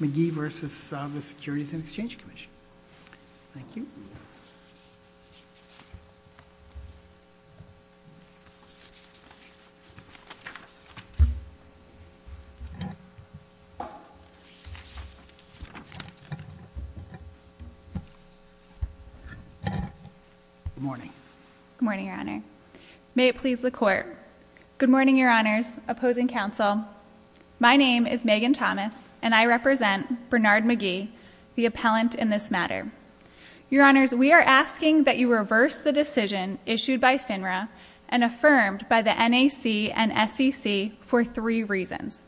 McGee v. The Securities and Exchange Commission. Thank you. Good morning. Good morning, Your Honor. May it please the Court. Good morning, Your Honors, opposing counsel. My name is Megan Thomas, and I represent Bernard McGee, the appellant in this matter. Your Honors, we are asking that you reverse the decision issued by FINRA and affirmed by the NAC and SEC for three reasons.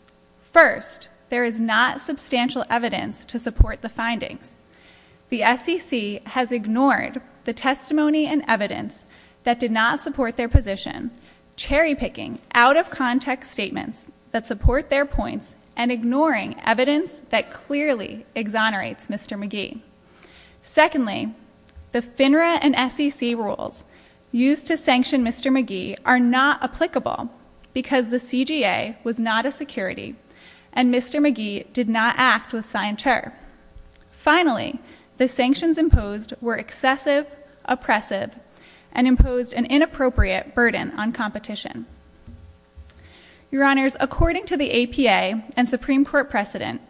First, there is not substantial evidence to support the findings. The SEC has ignored the testimony and NAC statements that support their points and ignoring evidence that clearly exonerates Mr. McGee. Secondly, the FINRA and SEC rules used to sanction Mr. McGee are not applicable because the CGA was not a security and Mr. McGee did not act with signature. and imposed an inappropriate burden on competition. Your Honors, according to the APA and Supreme Court precedent,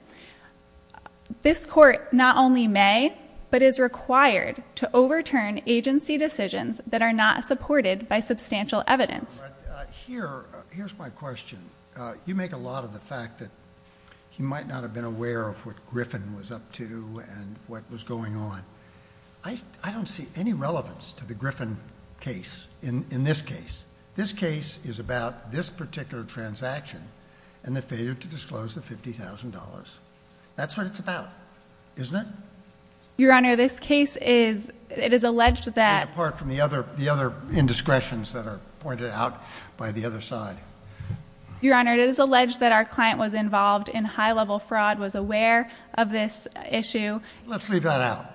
this Court not only may, but is required to overturn agency decisions that are not supported by substantial evidence. Here's my question. You make a lot of the fact that you might not have been aware of what Griffin was up to and what was going on. I don't see any relevance to the Griffin case in this case. This case is about this particular transaction and the failure to disclose the $50,000. That's what it's about, isn't it? Your Honor, this case is, it is alleged that... And apart from the other indiscretions that are pointed out by the other side. Your Honor, it is alleged that our client was involved in high level fraud, was aware of this issue. Let's leave that out.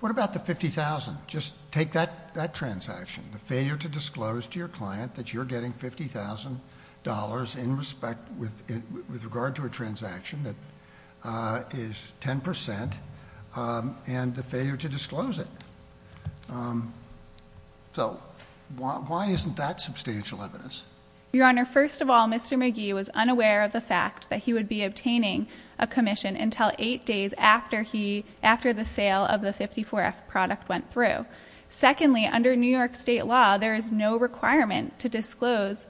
What about the $50,000? Just take that transaction, the failure to disclose to your client that you're getting $50,000 in respect, with regard to a transaction that is 10% and the failure to disclose it. So, why isn't that substantial evidence? Your Honor, first of all, Mr. McGee was unaware of the fact that he would be obtaining a commission until eight days after he, after the sale of the 54F product went through. Secondly, under New York State law, there is no requirement to disclose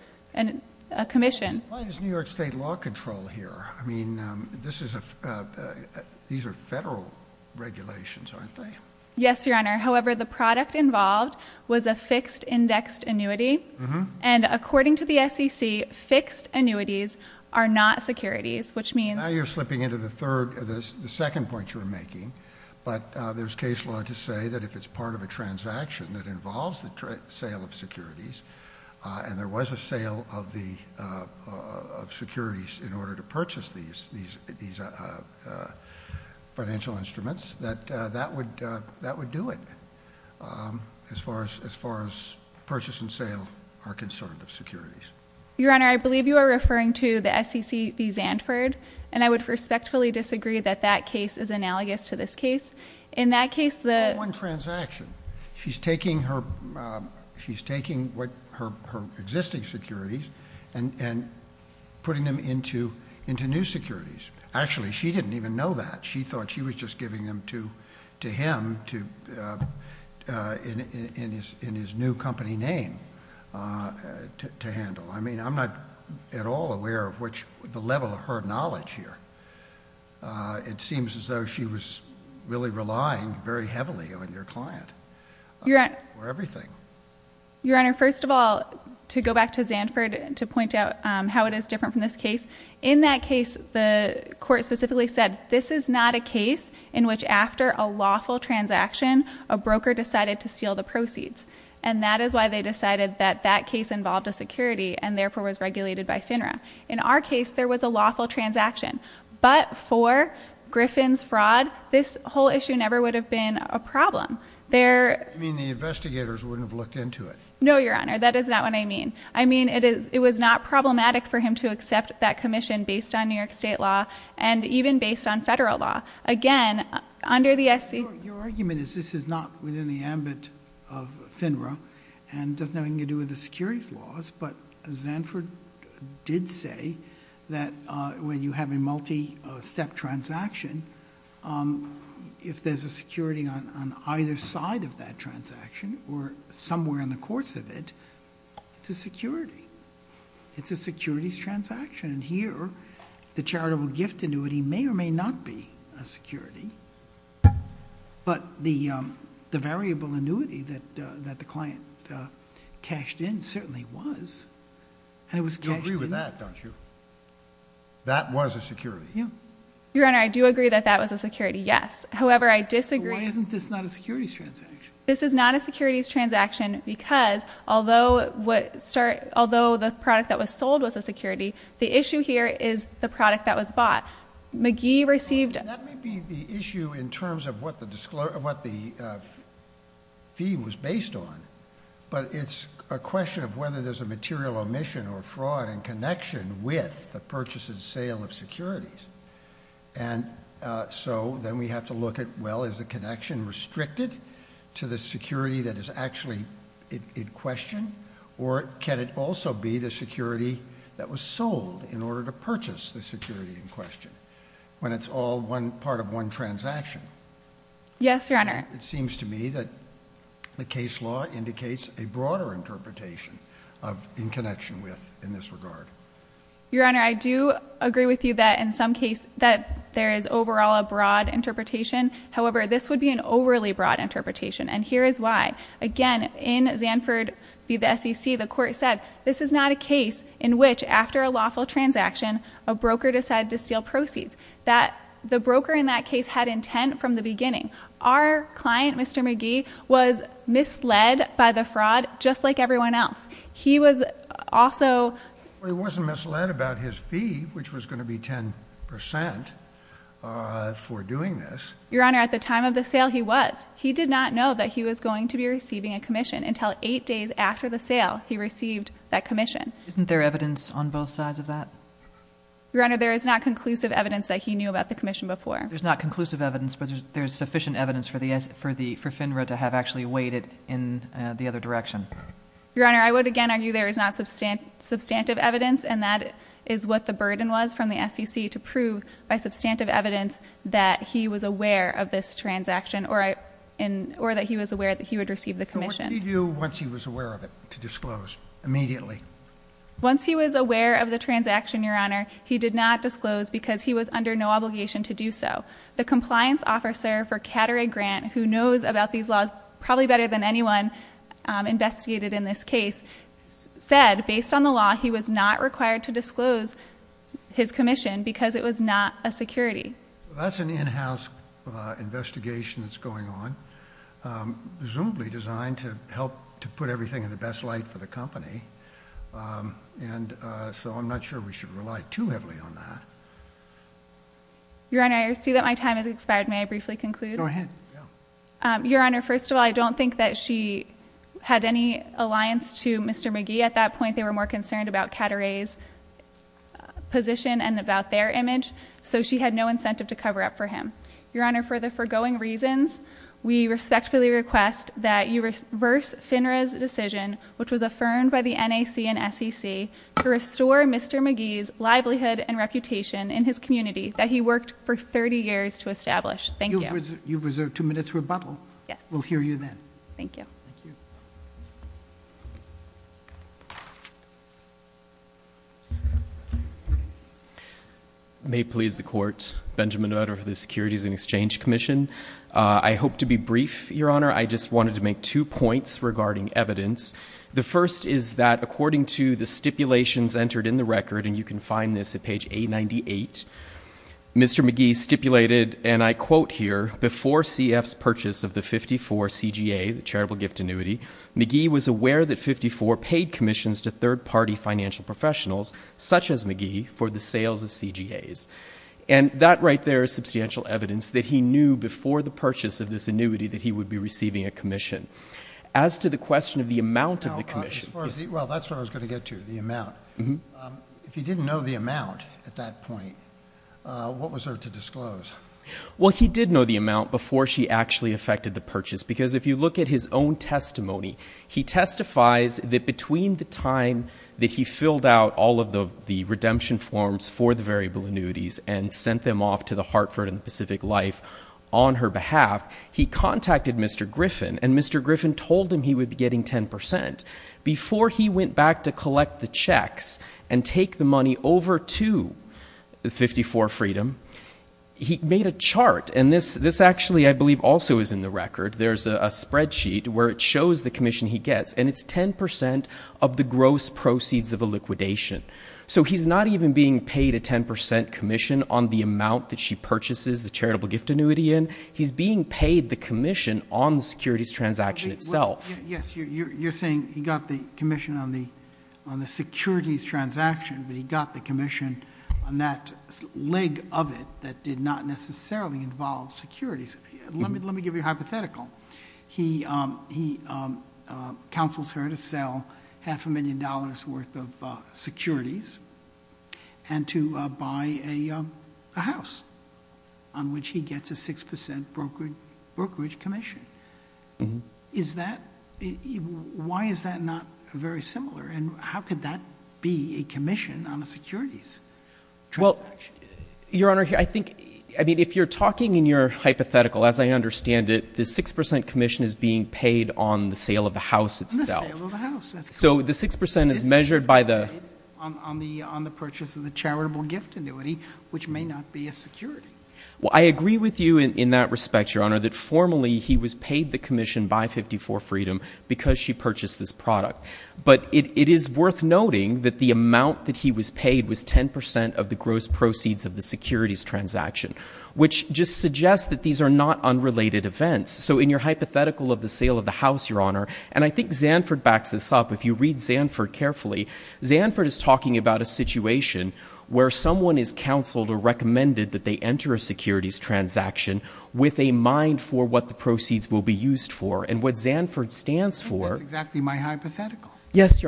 a commission. Why is New York State law control here? I mean, this is a, these are federal regulations, aren't they? Yes, Your Honor. However, the product involved was a fixed indexed annuity. And according to the SEC, fixed annuities are not securities, which means... Now you're slipping into the third, the second point you're making. But there's case law to say that if it's part of a transaction that involves the sale of securities, and there was a sale of securities in order to purchase these financial instruments, that that would do it, as far as purchase and sale are concerned of securities. Your Honor, I believe you are referring to the SEC v. Zandford, and I would respectfully disagree that that case is analogous to this case. In that case, the... Not one transaction. She's taking her existing securities and putting them into new securities. Actually, she didn't even know that. She thought she was just giving them to him in his new company name to handle. I mean, I'm not at all aware of the level of her knowledge here. It seems as though she was really relying very heavily on your client for everything. Your Honor, first of all, to go back to Zandford to point out how it is different from this case, in that case, the court specifically said, this is not a case in which after a lawful transaction, a broker decided to steal the proceeds. And that is why they decided that that case involved a security and therefore was regulated by FINRA. In our case, there was a lawful transaction. But for Griffin's fraud, this whole issue never would have been a problem. You mean the investigators wouldn't have looked into it? No, Your Honor, that is not what I mean. I mean, it was not problematic for him to accept that commission based on New York State law and even based on federal law. Again, under the SEC... Your argument is this is not within the ambit of FINRA and doesn't have anything to do with the securities laws. But Zandford did say that when you have a multi-step transaction, if there's a security on either side of that transaction or somewhere in the course of it, it's a security. It's a securities transaction. And here, the charitable gift annuity may or may not be a security, but the variable annuity that the client cashed in certainly was. And it was cashed in... You agree with that, don't you? That was a security. Your Honor, I do agree that that was a security, yes. However, I disagree... Why isn't this not a securities transaction? This is not a securities transaction because although the product that was sold was a security, the issue here is the product that was bought. McGee received... That may be the issue in terms of what the fee was based on, but it's a question of whether there's a material omission or fraud in connection with the purchase and sale of securities. And so, then we have to look at, well, is the connection restricted to the security that is actually in question, or can it also be the security that was sold in order to purchase the security in question, when it's all part of one transaction? Yes, Your Honor. It seems to me that the case law indicates a broader interpretation in connection with... in this regard. Your Honor, I do agree with you that in some case that there is overall a broad interpretation. However, this would be an overly broad interpretation, and here is why. Again, in Zanford v. the SEC, the court said, this is not a case in which after a lawful transaction, a broker decided to steal proceeds. The broker in that case had intent from the beginning. Our client, Mr. McGee, was misled by the fraud, just like everyone else. He was also... Well, he wasn't misled about his fee, which was going to be 10 percent for doing this. Your Honor, at the time of the sale, he was. He did not know that he was going to be receiving a commission until eight days after the sale he received that commission. Isn't there evidence on both sides of that? Your Honor, there is not conclusive evidence that he knew about the commission before. There's not conclusive evidence, but there's sufficient evidence for FINRA to have actually waited in the other direction. Your Honor, I would again argue there is not substantive evidence, and that is what the burden was from the SEC to prove by substantive evidence that he was aware of this transaction or that he was aware that he would receive the commission. What did he do once he was aware of it to disclose immediately? Once he was aware of the transaction, Your Honor, he did not That's an in-house investigation that's going on, presumably designed to help to put everything in the best light for the company, and so I'm not sure we should rely too heavily on that. Your Honor, I see that my time has expired. May I briefly conclude? Go ahead. Your Honor, first of all, I don't think that she had any alliance to Mr. Magee at that point. They were more concerned about Cateret's position and about their image, so she had no incentive to cover up for him. Your Honor, for the foregoing reasons, we respectfully request that you reverse FINRA's decision, which was affirmed by the NAC and SEC, to restore Mr. Magee's livelihood and reputation in his community that he worked for 30 years to establish. Thank you. You've reserved two minutes for a bubble. Yes. We'll hear you then. Thank you. May it please the Court, Benjamin Nutter of the Securities and Exchange Commission. I hope to be brief, Your Honor. I just wanted to make two points regarding evidence. The first is that, according to the stipulations entered in the record, and you can find this at page 898, Mr. Magee stipulated, and I quote here, before CF's purchase of the 54 CGA, the charitable gift annuity, Magee was aware that 54 paid commissions to third-party financial professionals, such as Magee, for the sales of CGAs. And that right there is substantial evidence that he knew before the purchase of this annuity that he would be receiving a commission. As to the question of the amount of the commission... Well, that's where I was going to get to, the amount. If he didn't know the amount at that point, what was there to disclose? Well, he did know the amount before she actually effected the purchase, because if you look at his own testimony, he testifies that between the time that he filled out all of the redemption forms for the variable annuities and sent them off to the Hartford and the Pacific Life on her behalf, he contacted Mr. Griffin, and Mr. Griffin told him he would be getting 10%. Before he went back to collect the checks and take the money over to 54 Freedom, he made a chart, and this actually, I believe, also is in the record. There's a spreadsheet where it shows the commission he gets, and it's 10% of the gross proceeds of the liquidation. So he's not even being paid a 10% commission on the amount that she purchases the charitable gift annuity in. He's being paid the commission on the securities transaction itself. You're saying he got the commission on the securities transaction, but he got the commission on that leg of it that did not necessarily involve securities. Let me give you a hypothetical. He counsels her to sell half a million dollars worth of securities and to buy a house on which he gets a 6% brokerage commission. Why is that not very similar, and how could that be a commission on a securities transaction? Your Honor, I think, I mean, if you're talking in your hypothetical, as I understand it, the 6% commission is being paid on the sale of the house itself. On the sale of the house, that's correct. So the 6% is measured by the — On the purchase of the charitable gift annuity, which may not be a security. Well, I agree with you in that respect, Your Honor, that formally he was paid the commission by 54 Freedom because she sold 10% of the gross proceeds of the securities transaction, which just suggests that these are not unrelated events. So in your hypothetical of the sale of the house, Your Honor, and I think Zanford backs this up. If you read Zanford carefully, Zanford is talking about a situation where someone is counseled or recommended that they enter a securities transaction with a mind for what the proceeds will be used for. And what Zanford stands for — that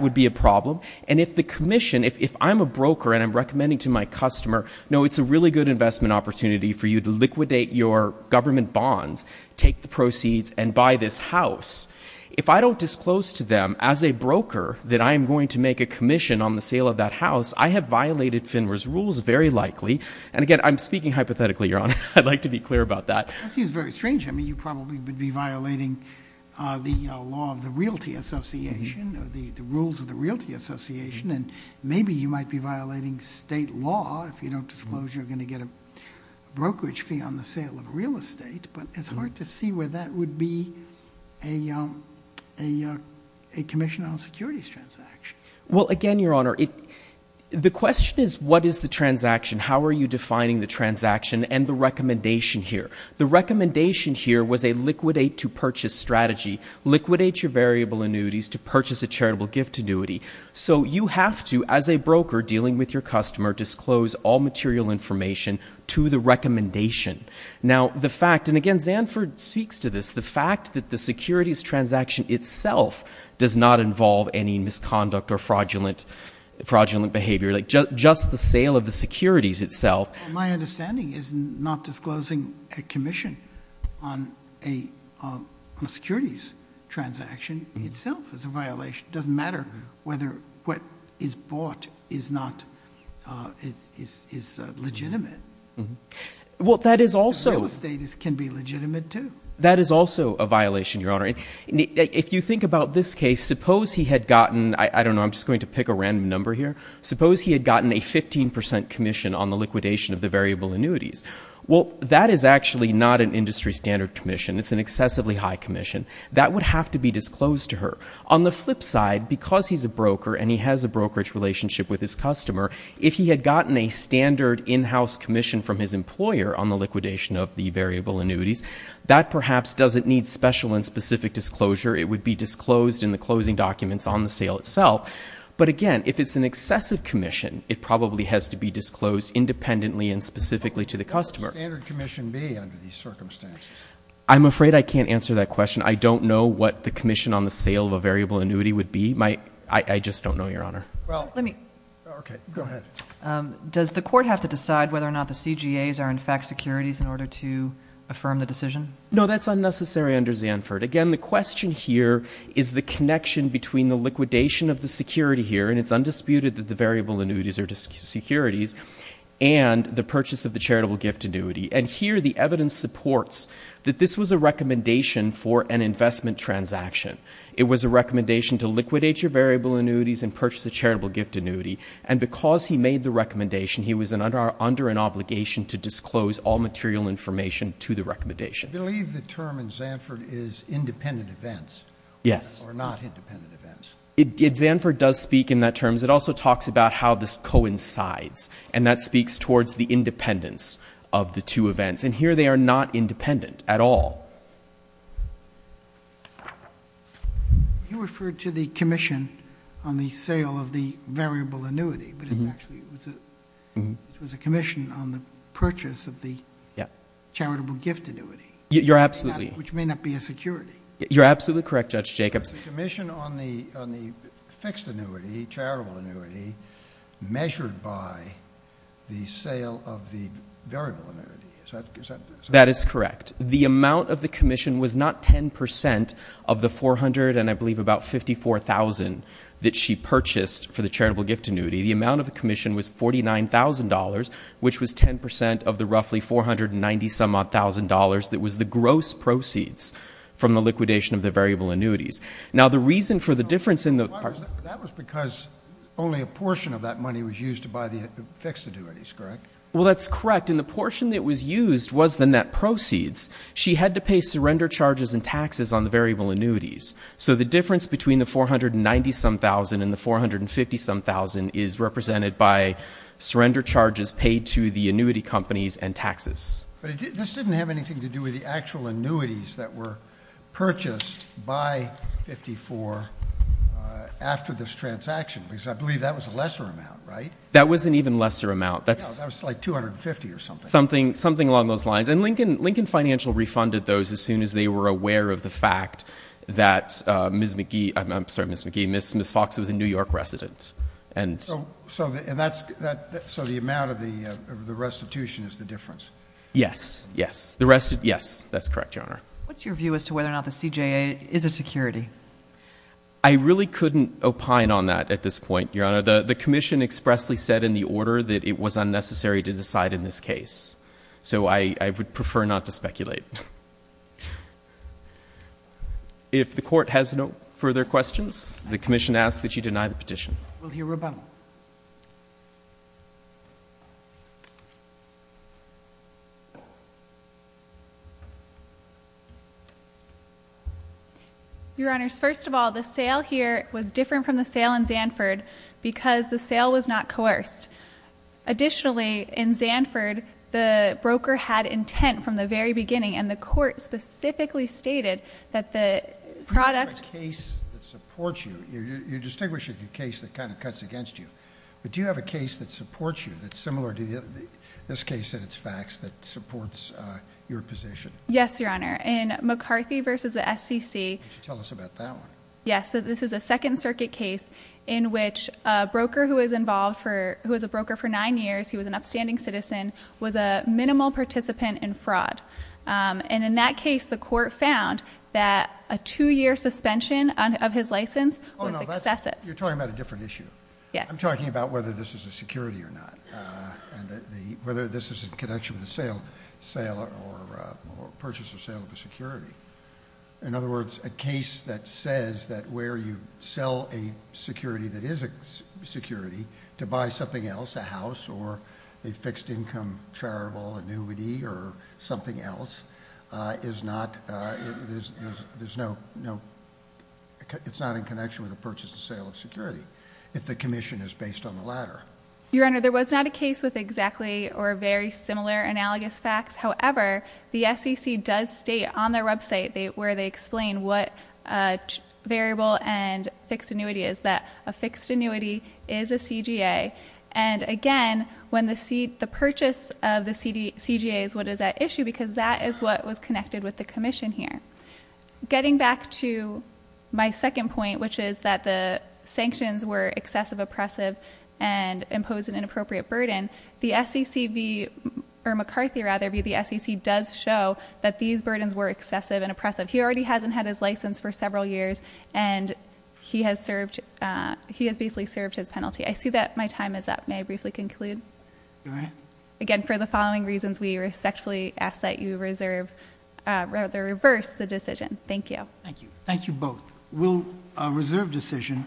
would be a problem. And if the commission — if I'm a broker and I'm recommending to my customer, no, it's a really good investment opportunity for you to liquidate your government bonds, take the proceeds, and buy this house, if I don't disclose to them as a broker that I am going to make a commission on the sale of that house, I have violated FINRA's rules very likely. And again, I'm speaking hypothetically, Your Honor. I'd like to be clear about that. That seems very strange. I mean, you probably would be violating the law of the Realty Association or the rules of the Realty Association. And maybe you might be violating state law if you don't disclose you're going to get a brokerage fee on the sale of real estate. But it's hard to see where that would be a commission on a securities transaction. Well, again, Your Honor, the question is what is the transaction? How are you defining the transaction and the recommendation here? The recommendation here was a liquidate-to-purchase strategy. Liquidate your variable annuities to purchase a charitable gift annuity. So you have to, as a broker dealing with your customer, disclose all material information to the recommendation. Now, the fact — and again, Zanford speaks to this — the fact that the securities transaction itself does not involve any misconduct or fraudulent behavior. Just the sale of the securities itself — My understanding is not disclosing a commission on a securities transaction itself is a violation. It doesn't matter whether what is bought is legitimate. Well, that is also — in this case, suppose he had gotten — I don't know, I'm just going to pick a random number here — suppose he had gotten a 15 percent commission on the liquidation of the variable annuities. Well, that is actually not an industry standard commission. It's an excessively high commission. That would have to be disclosed to her. On the flip side, because he's a broker and he has a brokerage relationship with his customer, if he had gotten a standard in-house commission from his employer on the liquidation of the variable annuities, that perhaps doesn't need special and specific disclosure. It would be disclosed in the closing documents on the sale itself. But again, if it's an excessive commission, it probably has to be disclosed independently and specifically to the customer. What would the standard commission be under these circumstances? I'm afraid I can't answer that question. I don't know what the commission on the sale of a variable annuity would be. I just don't know, Your Honor. Does the court have to decide whether or not the CGAs are in fact securities in order to affirm the decision? No, that's unnecessary under Zanford. Again, the question here is the connection between the liquidation of the security here, and it's undisputed that the variable annuities are securities, and the purchase of the charitable gift annuity. And here the evidence supports that this was a recommendation to liquidate your variable annuities and purchase a charitable gift annuity. And because he made the recommendation, he was under an obligation to disclose all material information to the recommendation. I believe the term in Zanford is independent events. Yes. Or not independent events. Zanford does speak in that terms. It also talks about how this coincides. And that speaks towards the independence of the two events. And here they are not independent at all. You referred to the commission on the sale of the variable annuity, but it's actually a commission on the purchase of the charitable gift annuity, which may not be a security. You're absolutely correct, Judge Jacobson. The commission on the fixed annuity, charitable annuity, measured by the sale of the variable annuity. Is that correct? That is correct. The amount of the commission was not 10 percent of the 400 and I believe about 54,000 that she purchased for the charitable gift annuity. The amount of the commission was $49,000, which was 10 percent of the roughly 490-some-odd thousand dollars that was the gross proceeds from the liquidation of the variable annuities. Now the reason for the difference in the... That was because only a portion of that money was used to buy the fixed annuities, correct? Well, that's correct. And the portion that was used was the net proceeds. She had to pay surrender charges and taxes on the variable annuities. So the difference between the 490-some-thousand and the 450-some-thousand is represented by surrender charges paid to the annuity companies and taxes. But this didn't have anything to do with the actual annuities that were purchased by 54 after this transaction, because I believe that was a lesser amount, right? That was an even lesser amount. No, that was like 250 or something. Something along those lines. And Lincoln Financial refunded those as soon as they were aware of the fact that Ms. McGee, I'm sorry, Ms. McGee, Ms. Fox was a New York resident. So the amount of the restitution is the difference? Yes, yes. Yes, that's correct, Your Honor. What's your view as to whether or not the CJA is a security? I really couldn't opine on that at this point, Your Honor. The Commission expressly said in the order that it was unnecessary to decide in this case. So I would prefer not to speculate. If the Court has no further questions, the Commission asks that you deny the petition. We'll hear rebuttal. Your Honors, first of all, the sale here was different from the sale in Zanford because the sale was not coerced. Additionally, in Zanford, the broker had intent from the very beginning, and the Court specifically stated that the product... You have a case that supports you. You're distinguishing a case that kind of cuts against you. But do you have a case that supports you that's similar to this case and its facts that supports your position? Yes, Your Honor. In McCarthy v. the SCC... Tell us about that one. Yes, this is a Second Circuit case in which a broker who was a broker for nine years, he was an upstanding citizen, was a minimal participant in fraud. And in that case, the Court found that a two-year suspension of his license was excessive. Oh, no, you're talking about a different issue. I'm talking about whether this is a security or not, whether this is in connection with a purchase or sale of a security. In other words, a case that says that where you sell a security that is a security to buy something else, a house or a fixed income charitable annuity or something else, is not... There's no... It's not in connection with a purchase or sale of security if the commission is based on the latter. Your Honor, there was not a case with exactly or very similar analogous facts. However, the SCC does state on their website where they explain what variable and fixed annuity is, that a fixed annuity is a CGA. And again, when the purchase of the CGA is what is at issue, because that is what was connected with the commission here. Getting back to my second point, which is that the sanctions were excessive, oppressive, and imposed an inappropriate burden, the SCC does show that these burdens were excessive and oppressive. He already hasn't had his license for several years, and he has basically served his penalty. I see that my time is up. May I briefly conclude? Go ahead. Again, for the following reasons, we respectfully ask that you reverse the decision. Thank you. Thank you both. We'll reserve decision.